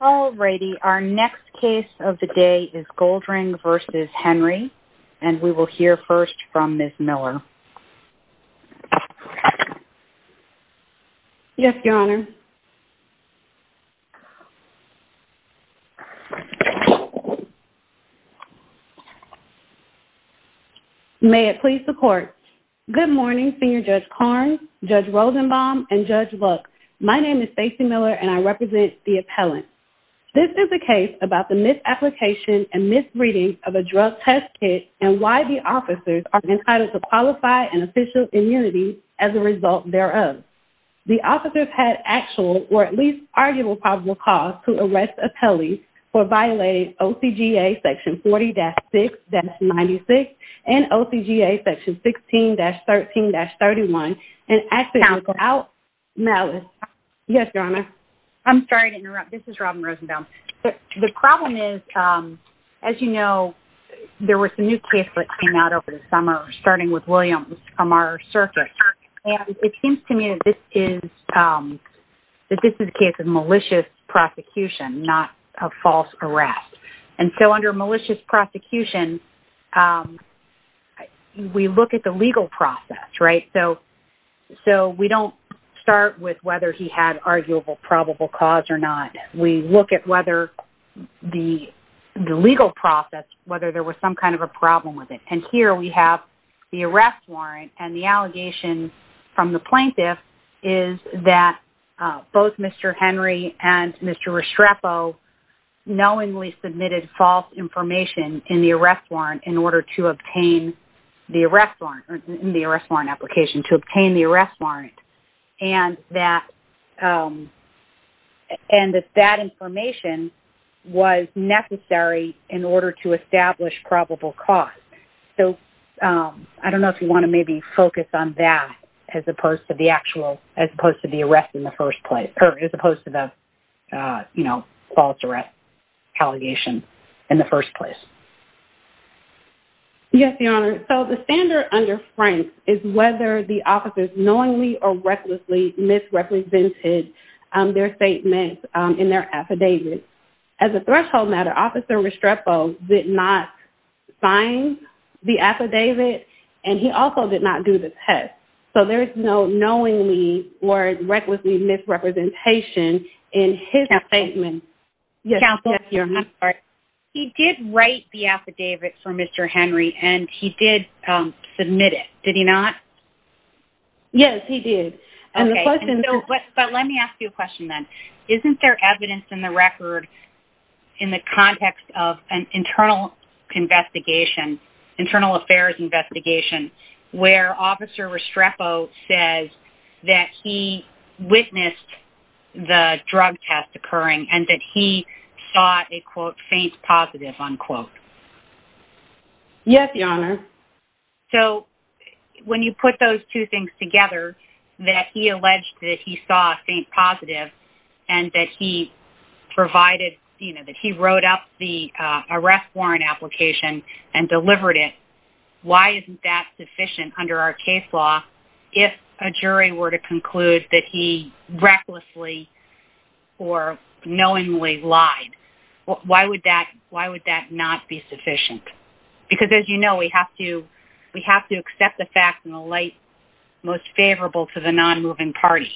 All righty, our next case of the day is Goldring v. Henry and we will hear first from Ms. Miller. Yes, Your Honor. May it please the court. Good morning Senior Judge Karnes, Judge Rosenbaum, and the appellant. This is a case about the misapplication and misreading of a drug test kit and why the officers are entitled to qualify an official immunity as a result thereof. The officers had actual or at least arguable probable cause to arrest appellees for violating OCGA section 40-6-96 and OCGA section 16-13-31 and... Yes, Your Honor. I'm sorry to interrupt. This is Robin Rosenbaum. The problem is, as you know, there was a new case that came out over the summer starting with Williams from our circuit and it seems to me that this is a case of malicious prosecution, not a false arrest. And so under malicious prosecution, we look at the legal process, right? So we don't start with whether he had arguable probable cause or not. We look at whether the legal process, whether there was some kind of a problem with it. And here we have the arrest warrant and the allegation from the plaintiff is that both Mr. Henry and Mr. Restrepo knowingly submitted false information in the arrest warrant in order to obtain the arrest warrant or in the arrest warrant application to obtain the arrest warrant and that information was necessary in order to establish probable cause. So I don't know if you want to maybe focus on that as opposed to the actual, as opposed to the arrest in the first place, or as opposed to the, you know, false arrest allegation in the first place. Yes, Your Honor. So the standard under Frank is whether the officers knowingly or recklessly misrepresented their statements in their affidavit. As a threshold matter, Officer Restrepo did not sign the affidavit and he also did not do the test. So there's no knowingly or recklessly misrepresentation in his statement. Counsel, I'm sorry. He did write the affidavit for Mr. Henry and he did submit it, did he not? Yes, he did. But let me ask you a question then. Isn't there evidence in the record in the context of an internal investigation, internal affairs investigation, where Officer Restrepo says that he witnessed the drug test occurring and that he saw a quote, faint positive, unquote? Yes, Your Honor. So when you put those two things together, that he alleged that he saw a faint positive and that he provided, you arrest warrant application and delivered it, why isn't that sufficient under our case law if a jury were to conclude that he recklessly or knowingly lied? Why would that, why would that not be sufficient? Because as you know, we have to, we have to accept the facts in the light most favorable to the non-moving party.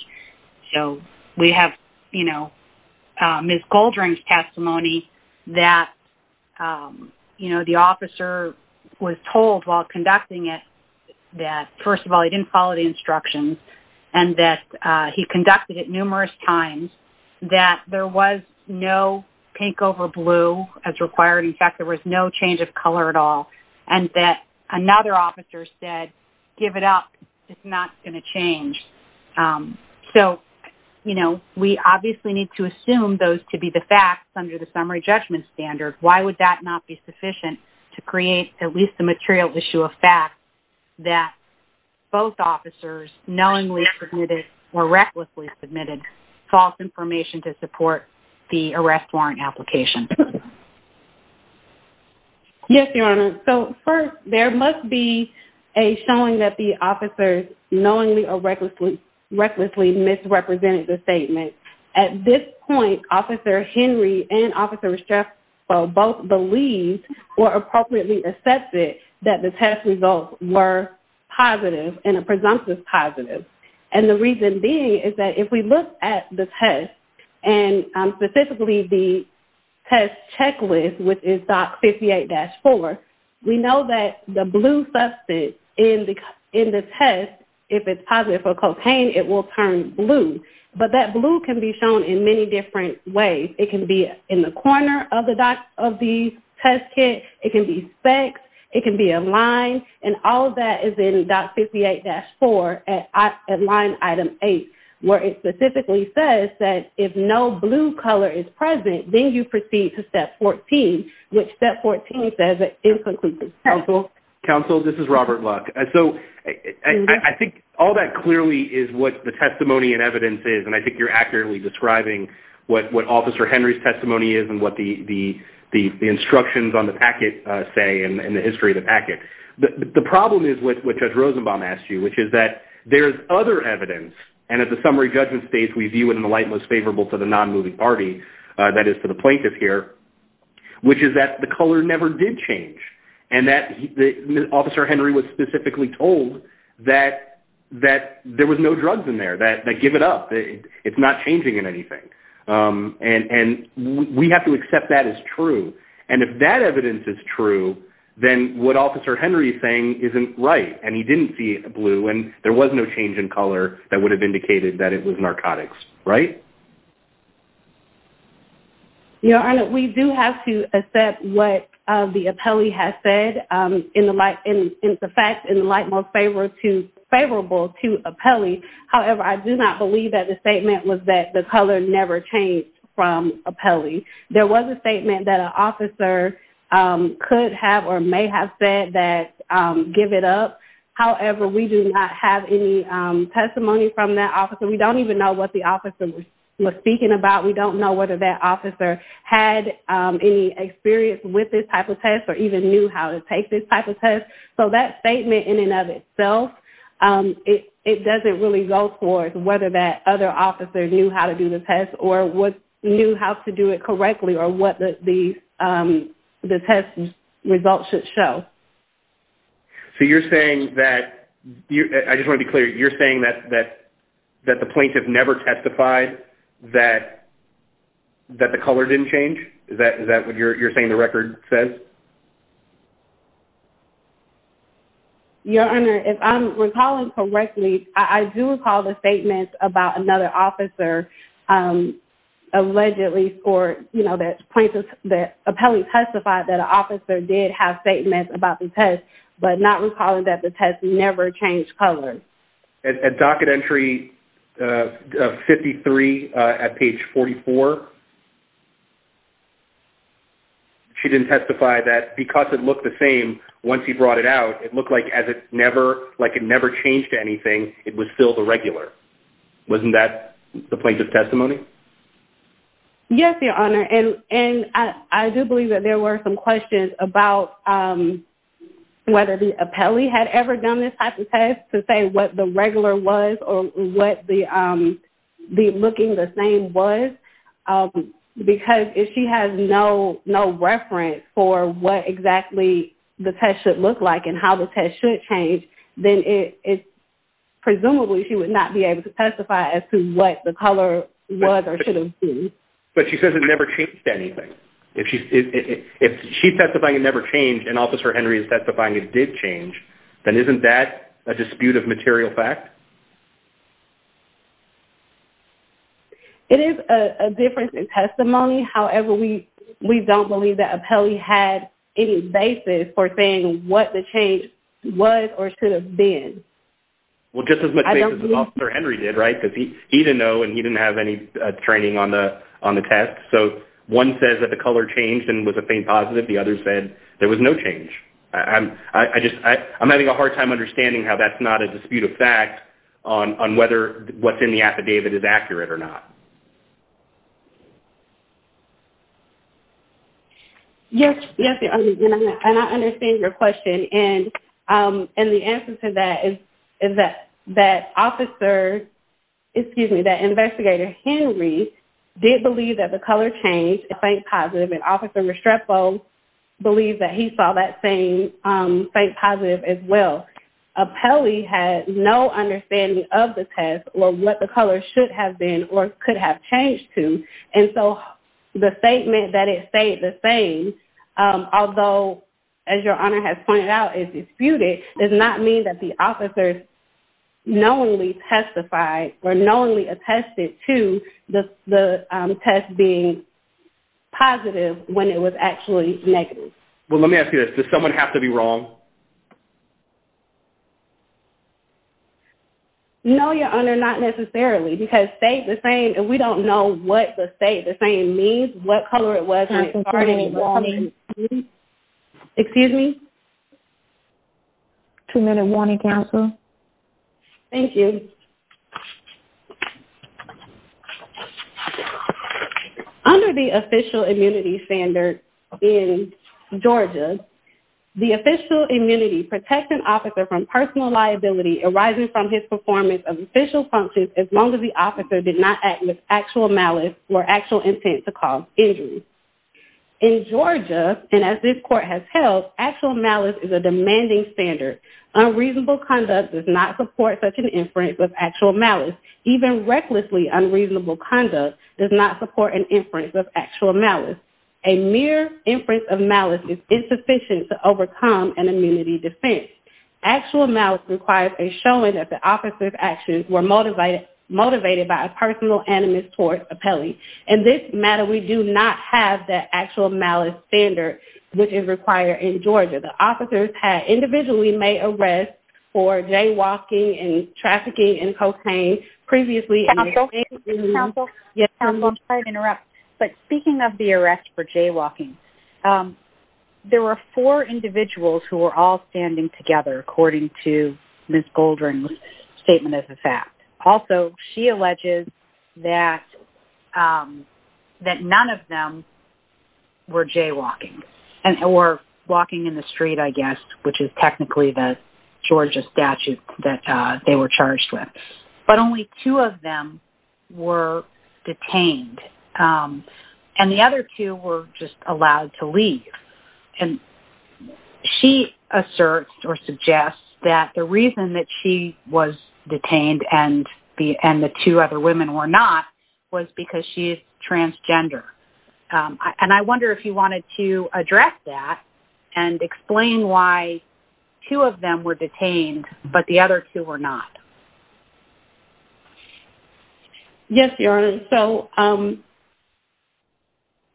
So we have, you know, Ms. Goldring's testimony that, you know, the officer was told while conducting it that, first of all, he didn't follow the instructions and that he conducted it numerous times, that there was no pink over blue as required. In fact, there was no change of color at all and that another officer said, give it up, it's not going to change. So, you know, we obviously need to assume those to be the facts under the summary judgment standard. Why would that not be sufficient to create at least the material issue of fact that both officers knowingly submitted or recklessly submitted false information to support the arrest warrant application? Yes, Your Honor. So first, there must be a showing that the officers knowingly or recklessly, recklessly misrepresented the statement. At this point, Officer Henry and Officer Restrepo both believed or appropriately accepted that the test results were positive and a test, and specifically the test checklist, which is DOC 58-4, we know that the blue substance in the test, if it's positive for cocaine, it will turn blue. But that blue can be shown in many different ways. It can be in the corner of the test kit, it can be sex, it can be a line, and all that is in DOC 58-4 at line item 8, where it specifically says that if no blue color is present, then you proceed to step 14, which step 14 says it is inconclusive. Counsel, this is Robert Luck. So I think all that clearly is what the testimony and evidence is, and I think you're accurately describing what Officer Henry's testimony is and what the instructions on the packet say in the history of the packet. The problem is what Judge Rosenbaum asked you, which is that there's other evidence, and at the summary judgment stage we view it in the light most favorable to the non-moving party, that is to the plaintiff here, which is that the color never did change, and that Officer Henry was specifically told that there was no drugs in there, that give it up, it's not changing in anything. And we have to accept that as true, and if that then what Officer Henry is saying isn't right, and he didn't see blue, and there was no change in color that would have indicated that it was narcotics, right? Your Honor, we do have to accept what the appellee has said in the light, in the facts in the light most favorable to appellee. However, I do not believe that the statement was that the color never changed from appellee. There was a statement that the officer may have said that give it up. However, we do not have any testimony from that officer. We don't even know what the officer was speaking about. We don't know whether that officer had any experience with this type of test, or even knew how to take this type of test. So that statement in and of itself, it doesn't really go towards whether that other officer knew how to do the test, or what knew how to do it correctly, or what the the test results should show. So you're saying that you, I just want to be clear, you're saying that that that the plaintiff never testified that that the color didn't change? Is that is that what you're saying the record says? Your Honor, if I'm recalling correctly, I do recall the statement about another officer allegedly for, you know, that plaintiff, that appellee testified that an officer did have statements about the test, but not recalling that the test never changed color. At docket entry 53 at page 44, she didn't testify that because it looked the same once he brought it out, it looked like as it never, like it never changed anything, it was still the plaintiff's testimony? Yes, your Honor, and I do believe that there were some questions about whether the appellee had ever done this type of test to say what the regular was, or what the looking the same was, because if she has no reference for what exactly the test should look like, and how the test should change, then it's presumably she would not be able to testify as to what the color was or should have been. But she says it never changed anything. If she's, if she's testifying it never changed, and Officer Henry is testifying it did change, then isn't that a dispute of material fact? It is a difference in testimony. However, we, we don't believe that appellee had any basis for what the change was or should have been. Well, just as much as Officer Henry did, right, because he didn't know, and he didn't have any training on the, on the test. So one says that the color changed and was a faint positive. The other said there was no change. I just, I'm having a hard time understanding how that's not a dispute of fact on whether what's in the affidavit is true. Yes, yes, and I understand your question. And, and the answer to that is, is that, that Officer, excuse me, that Investigator Henry did believe that the color changed, a faint positive, and Officer Restrepo believed that he saw that same faint positive as well. Appellee had no understanding of the test or what the color should have been or could have changed to, and so the statement that it stayed the same, although, as your Honor has pointed out, is disputed, does not mean that the officers knowingly testified or knowingly attested to the, the test being positive when it was actually negative. Well, let me ask you this, does someone have to be wrong? No, your Honor, not necessarily, because state the same, we don't know what the state the same means, what color it was when it started. Excuse me? Two minute warning, counsel. Thank you. Under the official immunity standard in Georgia, the official immunity protects an officer from personal liability arising from his performance of official functions as long as the officer did not act with actual malice or actual intent to cause injury. In Georgia, and as this court has held, actual malice is a demanding standard. Unreasonable conduct does not support such an even recklessly unreasonable conduct does not support an inference of actual malice. A mere inference of malice is insufficient to overcome an immunity defense. Actual malice requires a showing that the officer's actions were motivated by a personal animus towards appellee. In this matter, we do not have that actual malice standard, which is required in previously. I'm sorry to interrupt, but speaking of the arrest for jaywalking, there were four individuals who were all standing together, according to Ms. Goldring's statement as a fact. Also, she alleges that, um, that none of them were jaywalking and were walking in the street, I guess, which is technically the Georgia statute that they were charged with, but only two of them were detained. And the other two were just allowed to leave. And she asserts or suggests that the reason that she was detained and the, and the two other women were not was because she is transgender. Um, and I wonder if you wanted to address that and explain why two of them were detained, but the other two were not. Yes, Your Honor. So, um,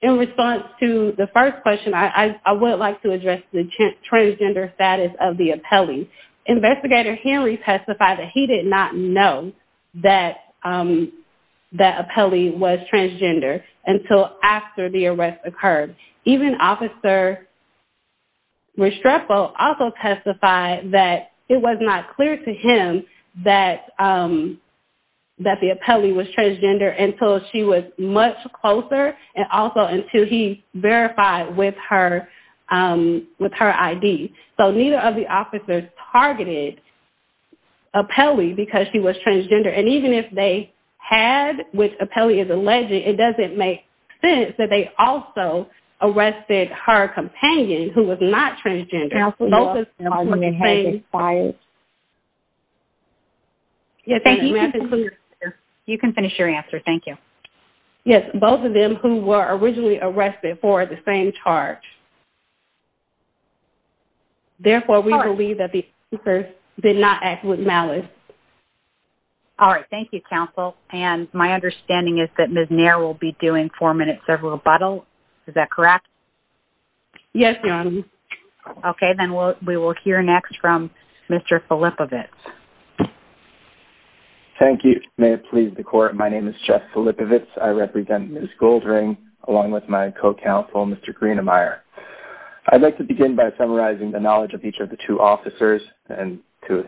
in response to the first question, I, I would like to address the transgender status of the appellee. Investigator Henry testified that he did not know that, um, that appellee was transgender until after the arrest occurred. Even officer Restrepo also testified that it was not clear to him that, um, that the appellee was transgender until she was much closer and also until he verified with her, um, with her ID. So neither of the officers targeted appellee because she was transgender. And even if they had, which appellee is alleged, it doesn't make sense that they also arrested her companion who was not transgender. You can finish your answer. Thank you. Yes. Both of them who were originally arrested for the same charge. Therefore we believe that the did not act with malice. All right. Thank you. Counsel. And my understanding is that Ms. Nair will be doing four minutes of rebuttal. Is that correct? Yes. Okay. Then we'll, we will hear next from Mr. Philip of it. Thank you. May it please the court. My name is Jeff. I represent Ms. Goldring along with my co-counsel, Mr. Greenemeier. I'd like to begin by summarizing the knowledge of each of the two officers and to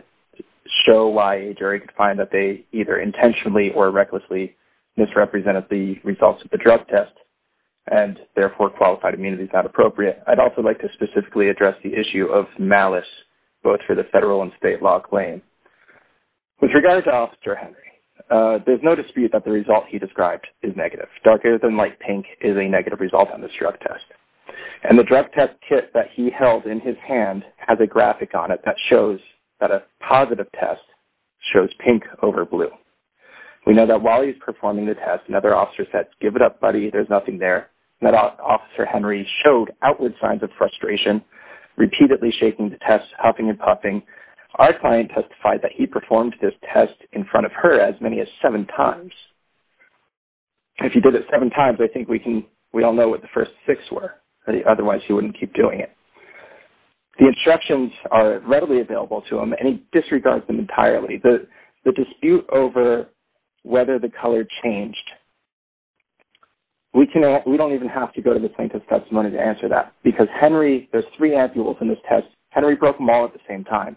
show why a jury could find that they either intentionally or recklessly misrepresented the results of the drug test and therefore qualified immunity is not appropriate. I'd also like to specifically address the issue of malice, both for the federal and state law claim with regards to officer Henry. Uh, there's no dispute that result he described is negative. Darker than light pink is a negative result on this drug test and the drug test kit that he held in his hand has a graphic on it that shows that a positive test shows pink over blue. We know that while he's performing the test and other officers that give it up, buddy, there's nothing there. And that officer Henry showed outward signs of frustration, repeatedly shaking the test, huffing and puffing. Our client testified that he performed this test in front of her as many as seven times. If he did it seven times, I think we can, we all know what the first six were, otherwise he wouldn't keep doing it. The instructions are readily available to him and he disregards them entirely. The, the dispute over whether the color changed, we can, we don't even have to go to the plaintiff's testimony to answer that because Henry, there's three ampules in this test. Henry broke them all at the same time.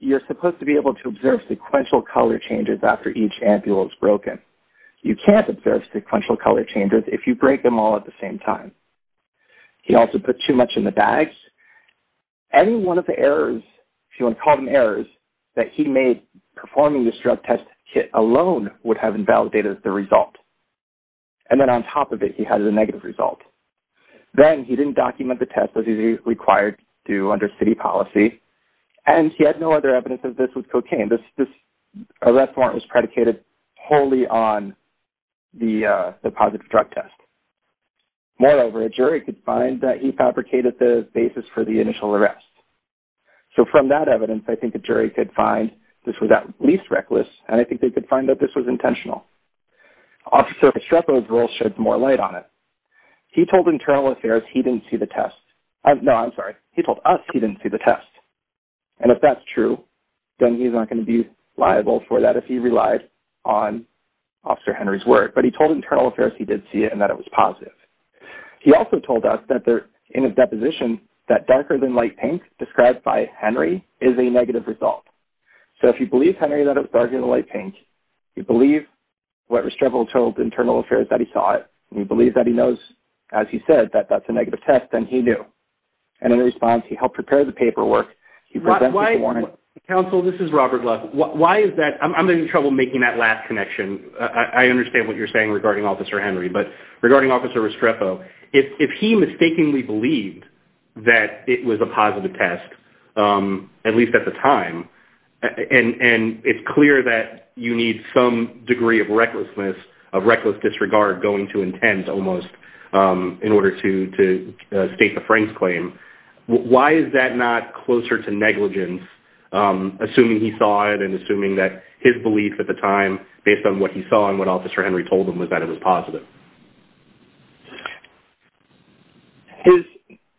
You're supposed to be able to observe sequential color changes after each ampule is broken. You can't observe sequential color changes if you break them all at the same time. He also put too much in the bags. Any one of the errors, if you want to call them errors, that he made performing this drug test kit alone would have invalidated the result. And then on top of it, he has a negative result. Then he didn't document the test as he's required to do under city policy. And he had no other evidence of this with cocaine. This, this arrest warrant was predicated wholly on the, the positive drug test. Moreover, a jury could find that he fabricated the basis for the initial arrest. So from that evidence, I think the jury could find this was at least reckless. And I think they could find that this was intentional. Officer Estrepo's role shed more light on it. He told internal affairs he didn't see the test. No, I'm sorry. He told us he didn't see the test. And if that's true, then he's not going to be liable for that if he relied on Officer Henry's word. But he told internal affairs he did see it and that it was positive. He also told us that they're in a deposition that darker than light pink described by Henry is a negative result. So if you believe Henry that it was darker than light pink, you believe what Estrepo told internal affairs that he saw it. You believe that he knows, as he said, that that's a negative test and he knew. And in response, he helped prepare the paperwork. He presented the warrant. Counsel, this is Robert Love. Why is that? I'm having trouble making that last connection. I understand what you're saying regarding Officer Henry, but regarding Officer Estrepo, if he mistakenly believed that it was a positive test, at least at the time, and it's clear that you need some degree of recklessness, of reckless disregard going too intense almost, in order to state the Frank's claim. Why is that not closer to negligence, assuming he saw it and assuming that his belief at the time, based on what he saw and what Officer Henry told him, was that it was positive?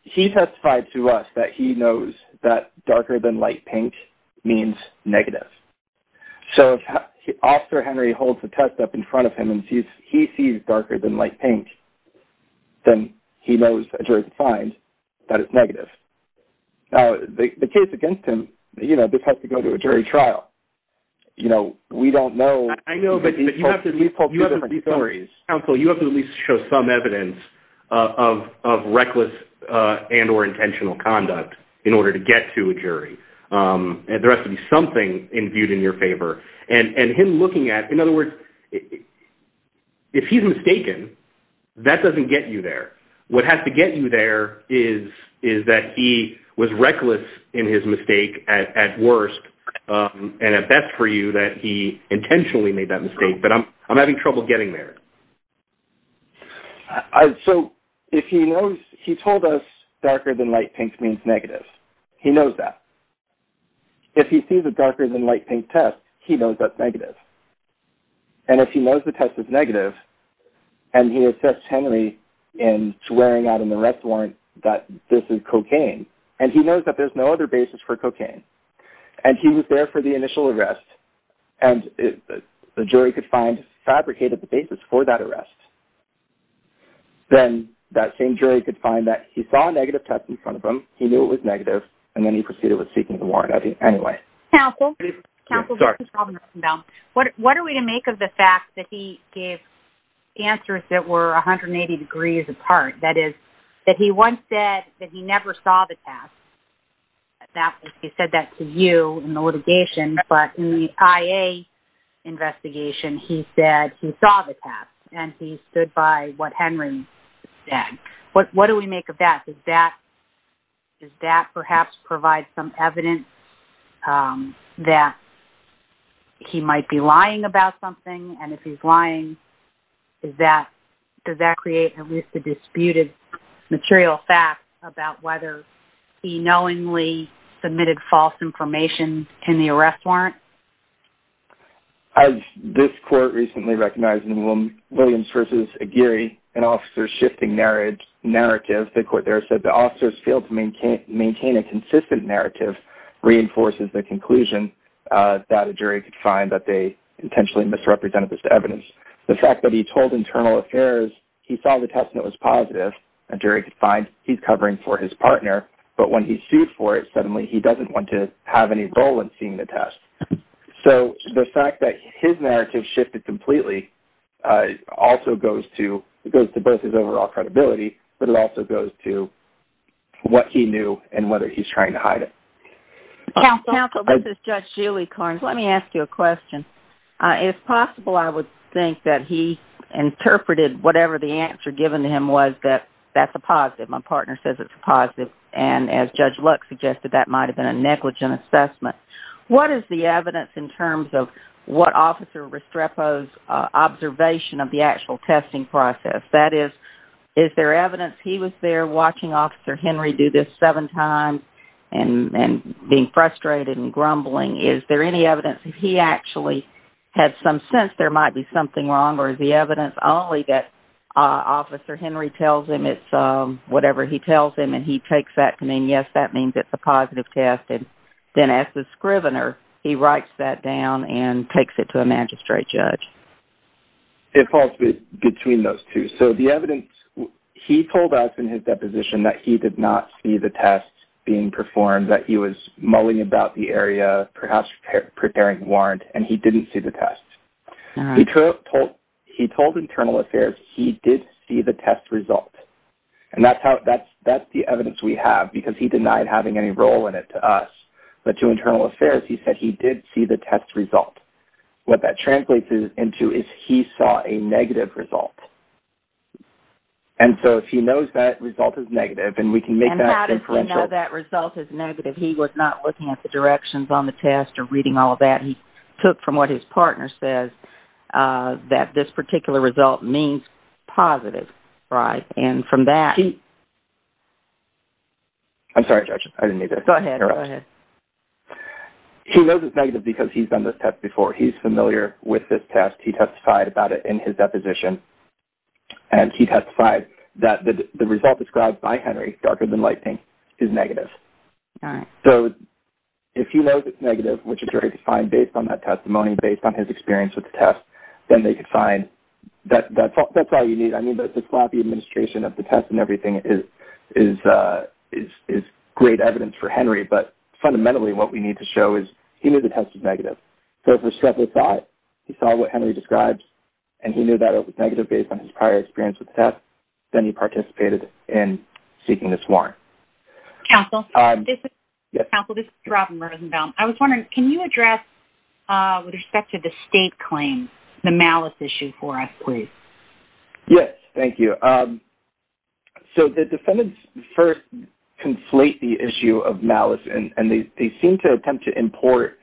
He testified to us that he knows that darker than light pink means negative. So if Officer Henry holds the test up in front of him and he sees darker than light pink, then he knows that a jury can find that it's negative. Now, the case against him, you know, this has to go to a jury trial. You know, we don't know. I know, but you have to at least show some evidence of reckless and or intentional conduct in order to get to a jury. There has to be something imbued in your favor. And him looking at, in other words, if he's mistaken, that doesn't get you there. What has to get you there is that he was reckless in his mistake at worst, and at best for you that he intentionally made that mistake. But I'm having trouble getting there. So if he knows, he told us darker than light pink means negative. He knows that. If he sees a darker than light pink test, he knows that's negative. And if he knows the test is that this is cocaine, and he knows that there's no other basis for cocaine, and he was there for the initial arrest, and the jury could find fabricated the basis for that arrest, then that same jury could find that he saw a negative test in front of him. He knew it was negative. And then he proceeded with seeking the warrant anyway. Counsel, what are we to make of the fact that he gave answers that were 180 degrees apart, that is, that he once said that he never saw the past? That he said that to you in the litigation, but in the IA investigation, he said he saw the past and he stood by what Henry said. What do we make of that? Does that perhaps provide some evidence that he might be lying about something? And if he's lying, does that create at least a disputed material fact about whether he knowingly submitted false information in the arrest warrant? As this court recently recognized in Williams versus Aguirre, an officer's shifting narrative, the court there said the officers failed to maintain a consistent narrative reinforces the conclusion that a jury could find that they intentionally misrepresented this evidence. The fact that he told Internal Affairs he saw the test and it was positive, a jury could find he's covering for his partner, but when he sued for it, suddenly he doesn't want to have any role in seeing the test. So the fact that his narrative shifted completely also goes to both his overall credibility, but it also goes to what he knew and whether he's trying to hide it. Counsel, this is Judge Julie Carnes. Let me ask you a question. If possible, I would think that he interpreted whatever the answer given to him was that that's a positive. My partner says it's a positive. And as Judge Lux suggested, that might've been a negligent assessment. What is the evidence in terms of what Officer the actual testing process? That is, is there evidence he was there watching Officer Henry do this seven times and being frustrated and grumbling? Is there any evidence that he actually had some sense there might be something wrong? Or is the evidence only that Officer Henry tells him it's whatever he tells him and he takes that to mean, yes, that means it's a positive test. And then as the scrivener, he writes that down and takes it to a magistrate judge. It falls between those two. So the evidence, he told us in his deposition that he did not see the test being performed, that he was mulling about the area, perhaps preparing warrant and he didn't see the test. He told Internal Affairs, he did see the test result. And that's the evidence we have because he denied having any role in it to us. But to Internal Affairs, he said he did see the test result. What that translates into is he saw a negative result. And so if he knows that result is negative and we can make that inferential. And how does he know that result is negative? He was not looking at the directions on the test or reading all of that. He took from what his partner says that this particular result means positive, right? And from that... I'm sorry, Judge. I didn't mean that. Go ahead. Go ahead. He knows it's negative because he's done this test before. He's familiar with this test. He testified about it in his deposition. And he testified that the result described by Henry, darker than lightning, is negative. So if he knows it's negative, which is very defined based on that testimony, based on his experience with the test, then they could find... That's all you need. I mean, the sloppy administration of the test and everything is great evidence for Henry. But fundamentally, what we need to show is he knew the test was negative. So for several thoughts, he saw what Henry describes, and he knew that it was negative based on his prior experience with the test. Then he participated in seeking this warrant. Counsel, this is Robin Rosenbaum. I was wondering, can you address with respect to the state claim, the malice issue for us, please? Yes. Thank you. So the defendants first conflate the issue of malice, and they seem to attempt to import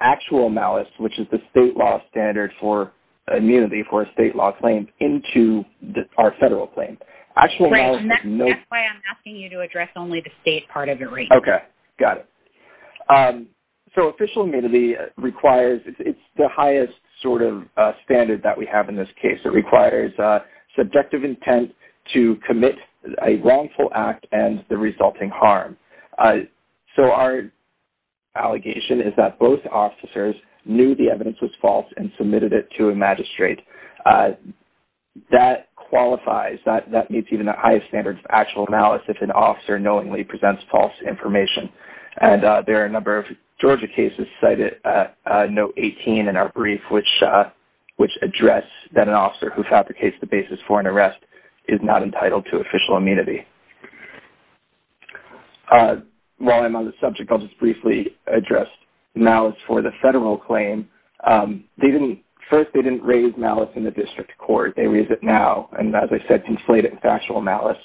actual malice, which is the state law standard for immunity for a state law claim, into our federal claim. Actual malice... That's why I'm asking you to address only the state part of it right now. Okay. Got it. So official immunity requires... Sort of a standard that we have in this case. It requires subjective intent to commit a wrongful act and the resulting harm. So our allegation is that both officers knew the evidence was false and submitted it to a magistrate. That qualifies. That meets even the highest standards of actual malice if an officer knowingly presents false information. And there are a number of Georgia cases cited, note 18 in our brief, which address that an officer who fabricates the basis for an arrest is not entitled to official immunity. While I'm on the subject, I'll just briefly address malice for the federal claim. First, they didn't raise malice in the district court. They raise it now. And as I said, conflate it with actual malice.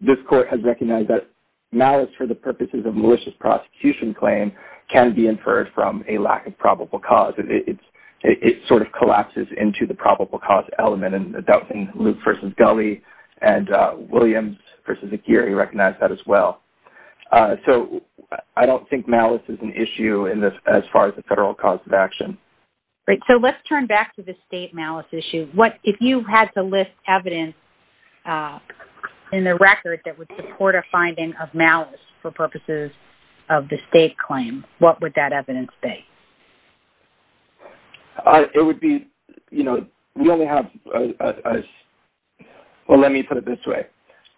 This court has recognized that malice for the purposes of malicious prosecution claim can be inferred from a lack of probable cause. It sort of collapses into the probable cause element. And I'm doubting Luke versus Gulley and Williams versus Aguirre recognize that as well. So I don't think malice is an issue in this as far as the federal cause of action. Great. So let's turn back to the state malice issue. If you had to list evidence in the record that would support a finding of malice for purposes of the state claim, what would that evidence be? It would be, you know, we only have... Well, let me put it this way.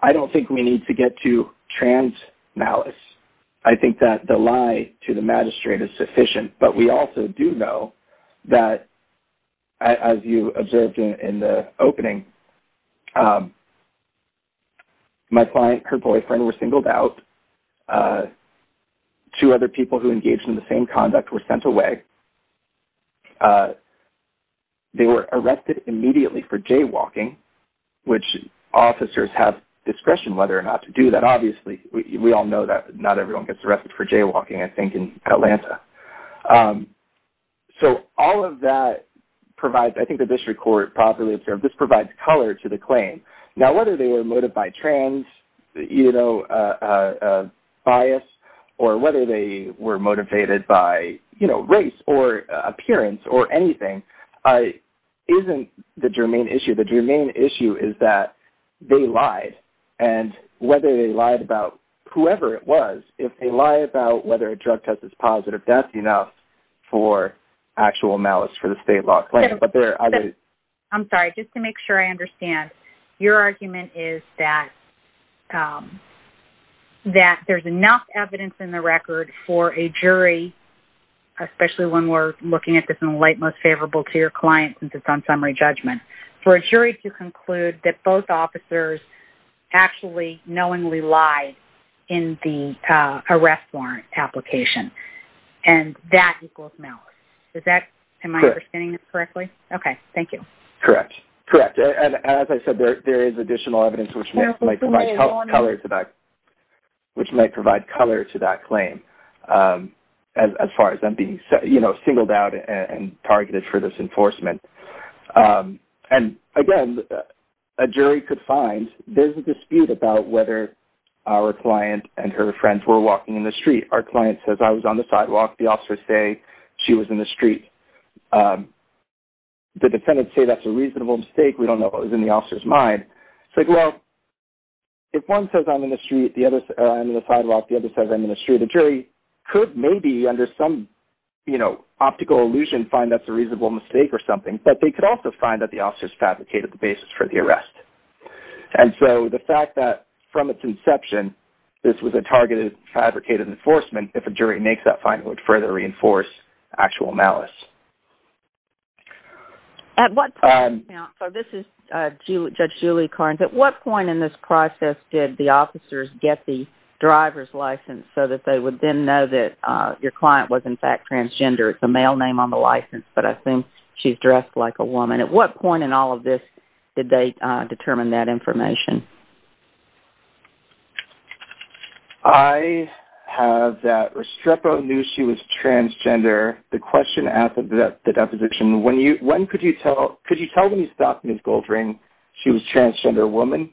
I don't think we need to get to trans malice. I think that the lie to the magistrate is sufficient. But we also do know that as you observed in the opening, my client, her boyfriend were singled out. Two other people who engaged in the same conduct were sent away. They were arrested immediately for jaywalking, which officers have discretion whether or not to do that. Obviously, we all know that not everyone gets arrested for jaywalking, I think, in Atlanta. So all of that provides, I think the district court properly observed, this provides color to the claim. Now, whether they were motivated by trans, you know, bias, or whether they were motivated by, you know, race or appearance or anything isn't the germane issue. The germane issue is that they lied. And whether they lied about whoever it was, if they lie about whether a drug test is positive, that's enough for actual malice for the state law claim. But there are other... I'm sorry, just to make sure I understand, your argument is that that there's enough evidence in the record for a jury, especially when we're looking at this in the light most favorable to your client, since it's on summary judgment, for a jury to conclude that both officers actually knowingly lied in the arrest warrant application. And that equals malice. Is that... Am I understanding this correctly? Okay, thank you. Correct. Correct. And as I said, there is additional evidence which might provide color to that, which might provide color to that claim, as far as them being, you know, singled out and a jury could find. There's a dispute about whether our client and her friends were walking in the street. Our client says, I was on the sidewalk. The officers say she was in the street. The defendants say that's a reasonable mistake. We don't know what was in the officer's mind. It's like, well, if one says, I'm in the street, the other says, I'm in the sidewalk, the other says, I'm in the street, the jury could maybe, under some, you know, optical illusion, find that's a reasonable mistake or something. But they could also find that the officers fabricated the basis for the arrest. And so, the fact that from its inception, this was a targeted, fabricated enforcement, if a jury makes that finding, it would further reinforce actual malice. At what point in this process did the officers get the driver's license so that they would then know that your client was, in fact, transgender? It's a male name on the license, but I think she's dressed like a woman. At what point in all of this did they determine that information? I have that Restrepo knew she was transgender. The question at the deposition, when you, when could you tell, could you tell when you stopped Ms. Goldring she was transgender woman?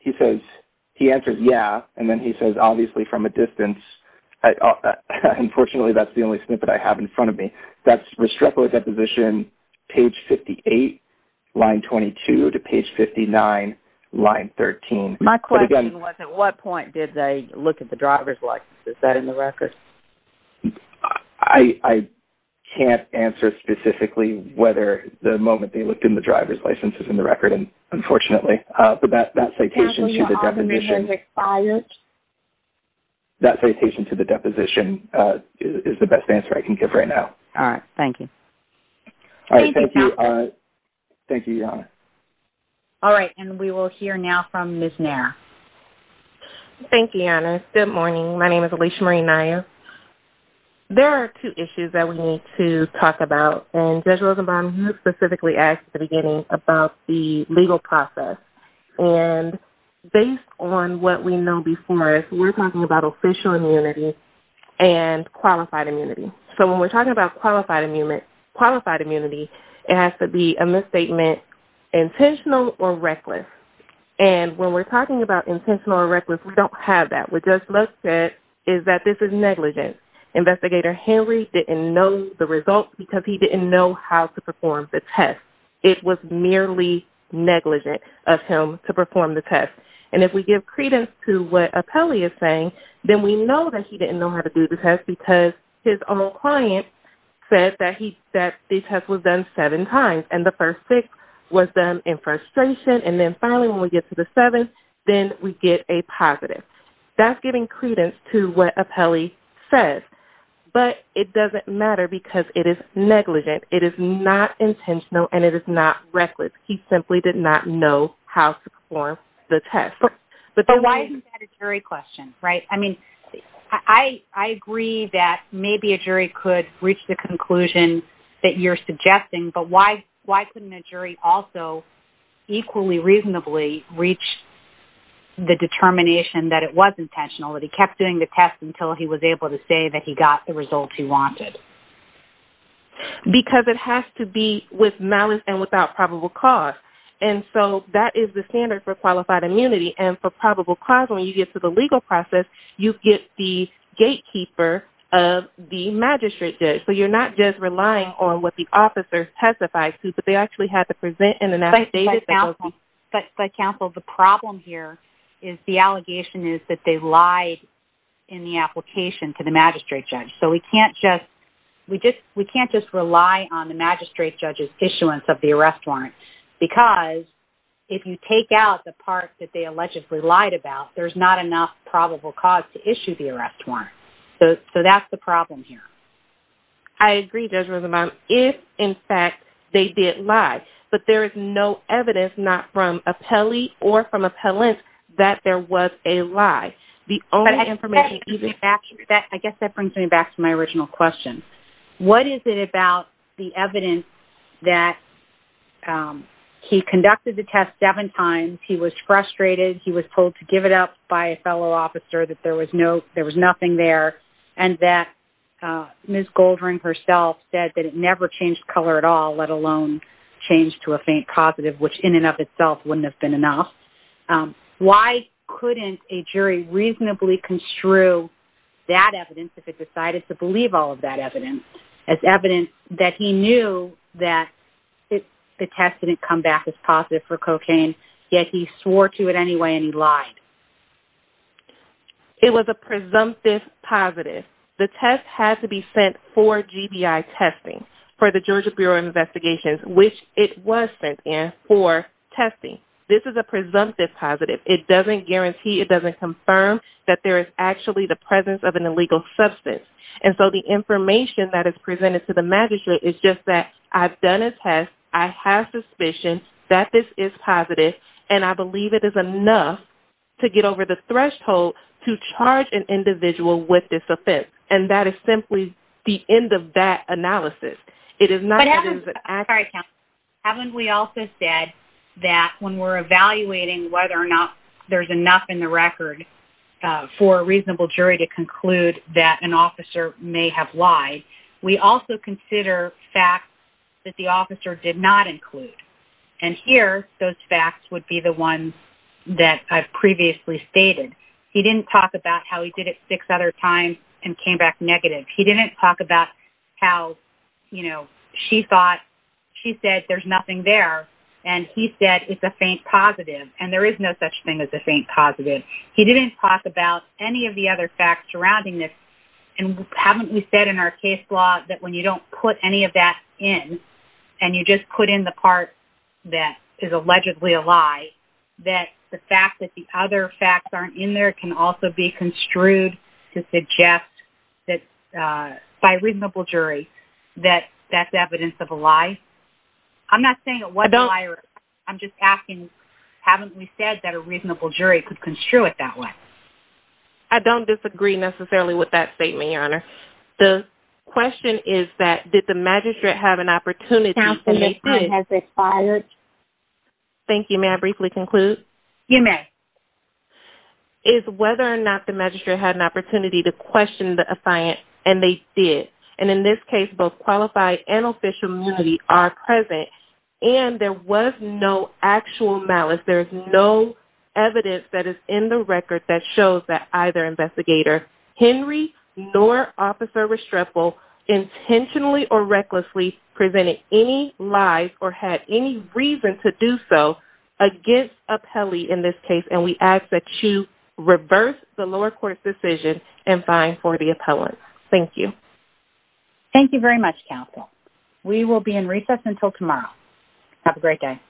He says, he answers, yeah. And then he says, obviously, from a distance. Unfortunately, that's the only snippet I have in front of me. That's Restrepo deposition, page 58, line 22 to page 59, line 13. My question was, at what point did they look at the driver's license? Is that in the record? I can't answer specifically whether the moment they looked in the driver's license is in the record, unfortunately. But that citation to the deposition is the best answer I can give right now. All right. Thank you. Thank you, Your Honor. All right. And we will hear now from Ms. Nair. Thank you, Your Honor. Good morning. My name is Alicia Marie Nair. There are two issues that we need to talk about. And Judge Rosenbaum specifically asked at the legal process. And based on what we know before us, we're talking about official immunity and qualified immunity. So when we're talking about qualified immunity, it has to be a misstatement, intentional or reckless. And when we're talking about intentional or reckless, we don't have that. What Judge Lutz said is that this is negligent. Investigator Henry didn't know the results because he didn't know how to perform the test. It was merely negligent of him to perform the test. And if we give credence to what Apelli is saying, then we know that he didn't know how to do the test because his own client said that the test was done seven times. And the first six was done in frustration. And then finally, when we get to the seventh, then we get a positive. That's giving credence to what Apelli says. But it doesn't matter because it is negligent. It is not intentional and it is not reckless. He simply did not know how to perform the test. But why isn't that a jury question, right? I mean, I agree that maybe a jury could reach the conclusion that you're suggesting, but why couldn't a jury also equally reasonably reach the determination that it was intentional, that he kept doing the test until he was able to say that he got the results he wanted? Because it has to be with malice and without probable cause. And so that is the standard for qualified immunity. And for probable cause, when you get to the legal process, you get the gatekeeper of the magistrate judge. So you're not just relying on what the officer testified to, but they actually had to present in an affidavit. But counsel, the problem here is the allegation is that they lied in the application to the we can't just rely on the magistrate judge's issuance of the arrest warrant, because if you take out the part that they allegedly lied about, there's not enough probable cause to issue the arrest warrant. So that's the problem here. I agree, Judge Rosamond, if, in fact, they did lie. But there is no evidence, not from Apelli or from Appellant, that there was a lie. The only information that I guess that brings me back to my original question, what is it about the evidence that he conducted the test seven times, he was frustrated, he was told to give it up by a fellow officer, that there was no, there was nothing there. And that Ms. Goldring herself said that it never changed color at all, let alone change to a faint causative, which in and of itself wouldn't have enough. Why couldn't a jury reasonably construe that evidence if it decided to believe all of that evidence as evidence that he knew that the test didn't come back as positive for cocaine, yet he swore to it anyway and he lied. It was a presumptive positive. The test had to be sent for GBI testing for the Georgia Bureau of Investigations, which it was sent in for testing. This is a presumptive positive. It doesn't guarantee, it doesn't confirm that there is actually the presence of an illegal substance. And so the information that is presented to the magistrate is just that I've done a test, I have suspicion that this is positive, and I believe it is enough to get over the threshold to charge an individual with this offense. And that is simply the end of that analysis. It is not... Haven't we also said that when we're evaluating whether or not there's enough in the record for a reasonable jury to conclude that an officer may have lied, we also consider facts that the officer did not include. And here, those facts would be the ones that I've previously stated. He didn't talk about how he did it six other times and came back negative. He didn't talk about how she said there's nothing there and he said it's a faint positive. And there is no such thing as a faint positive. He didn't talk about any of the other facts surrounding this. And haven't we said in our case law that when you don't put any of that in and you just put in the part that is allegedly a lie, that the fact that the other facts aren't in there can also be construed to suggest that by a reasonable jury that that's evidence of a lie? I'm not saying it wasn't a lie. I'm just asking, haven't we said that a reasonable jury could construe it that way? I don't disagree necessarily with that statement, Your Honor. The question is that did the magistrate have an opportunity to make this... Counselor, the time has expired. Thank you. May I briefly conclude? You may. ...is whether or not the magistrate had an opportunity to question the assignant and they did. And in this case, both qualified and official immunity are present and there was no actual malice. There's no evidence that is in the record that shows that either investigator, Henry nor Officer Restrepo, intentionally or recklessly presented any lies or had any reason to do so against appellee in this case and we ask that you reverse the lower court's decision and find for the appellant. Thank you. Thank you very much, Counsel. We will be in recess until tomorrow. Have a great day.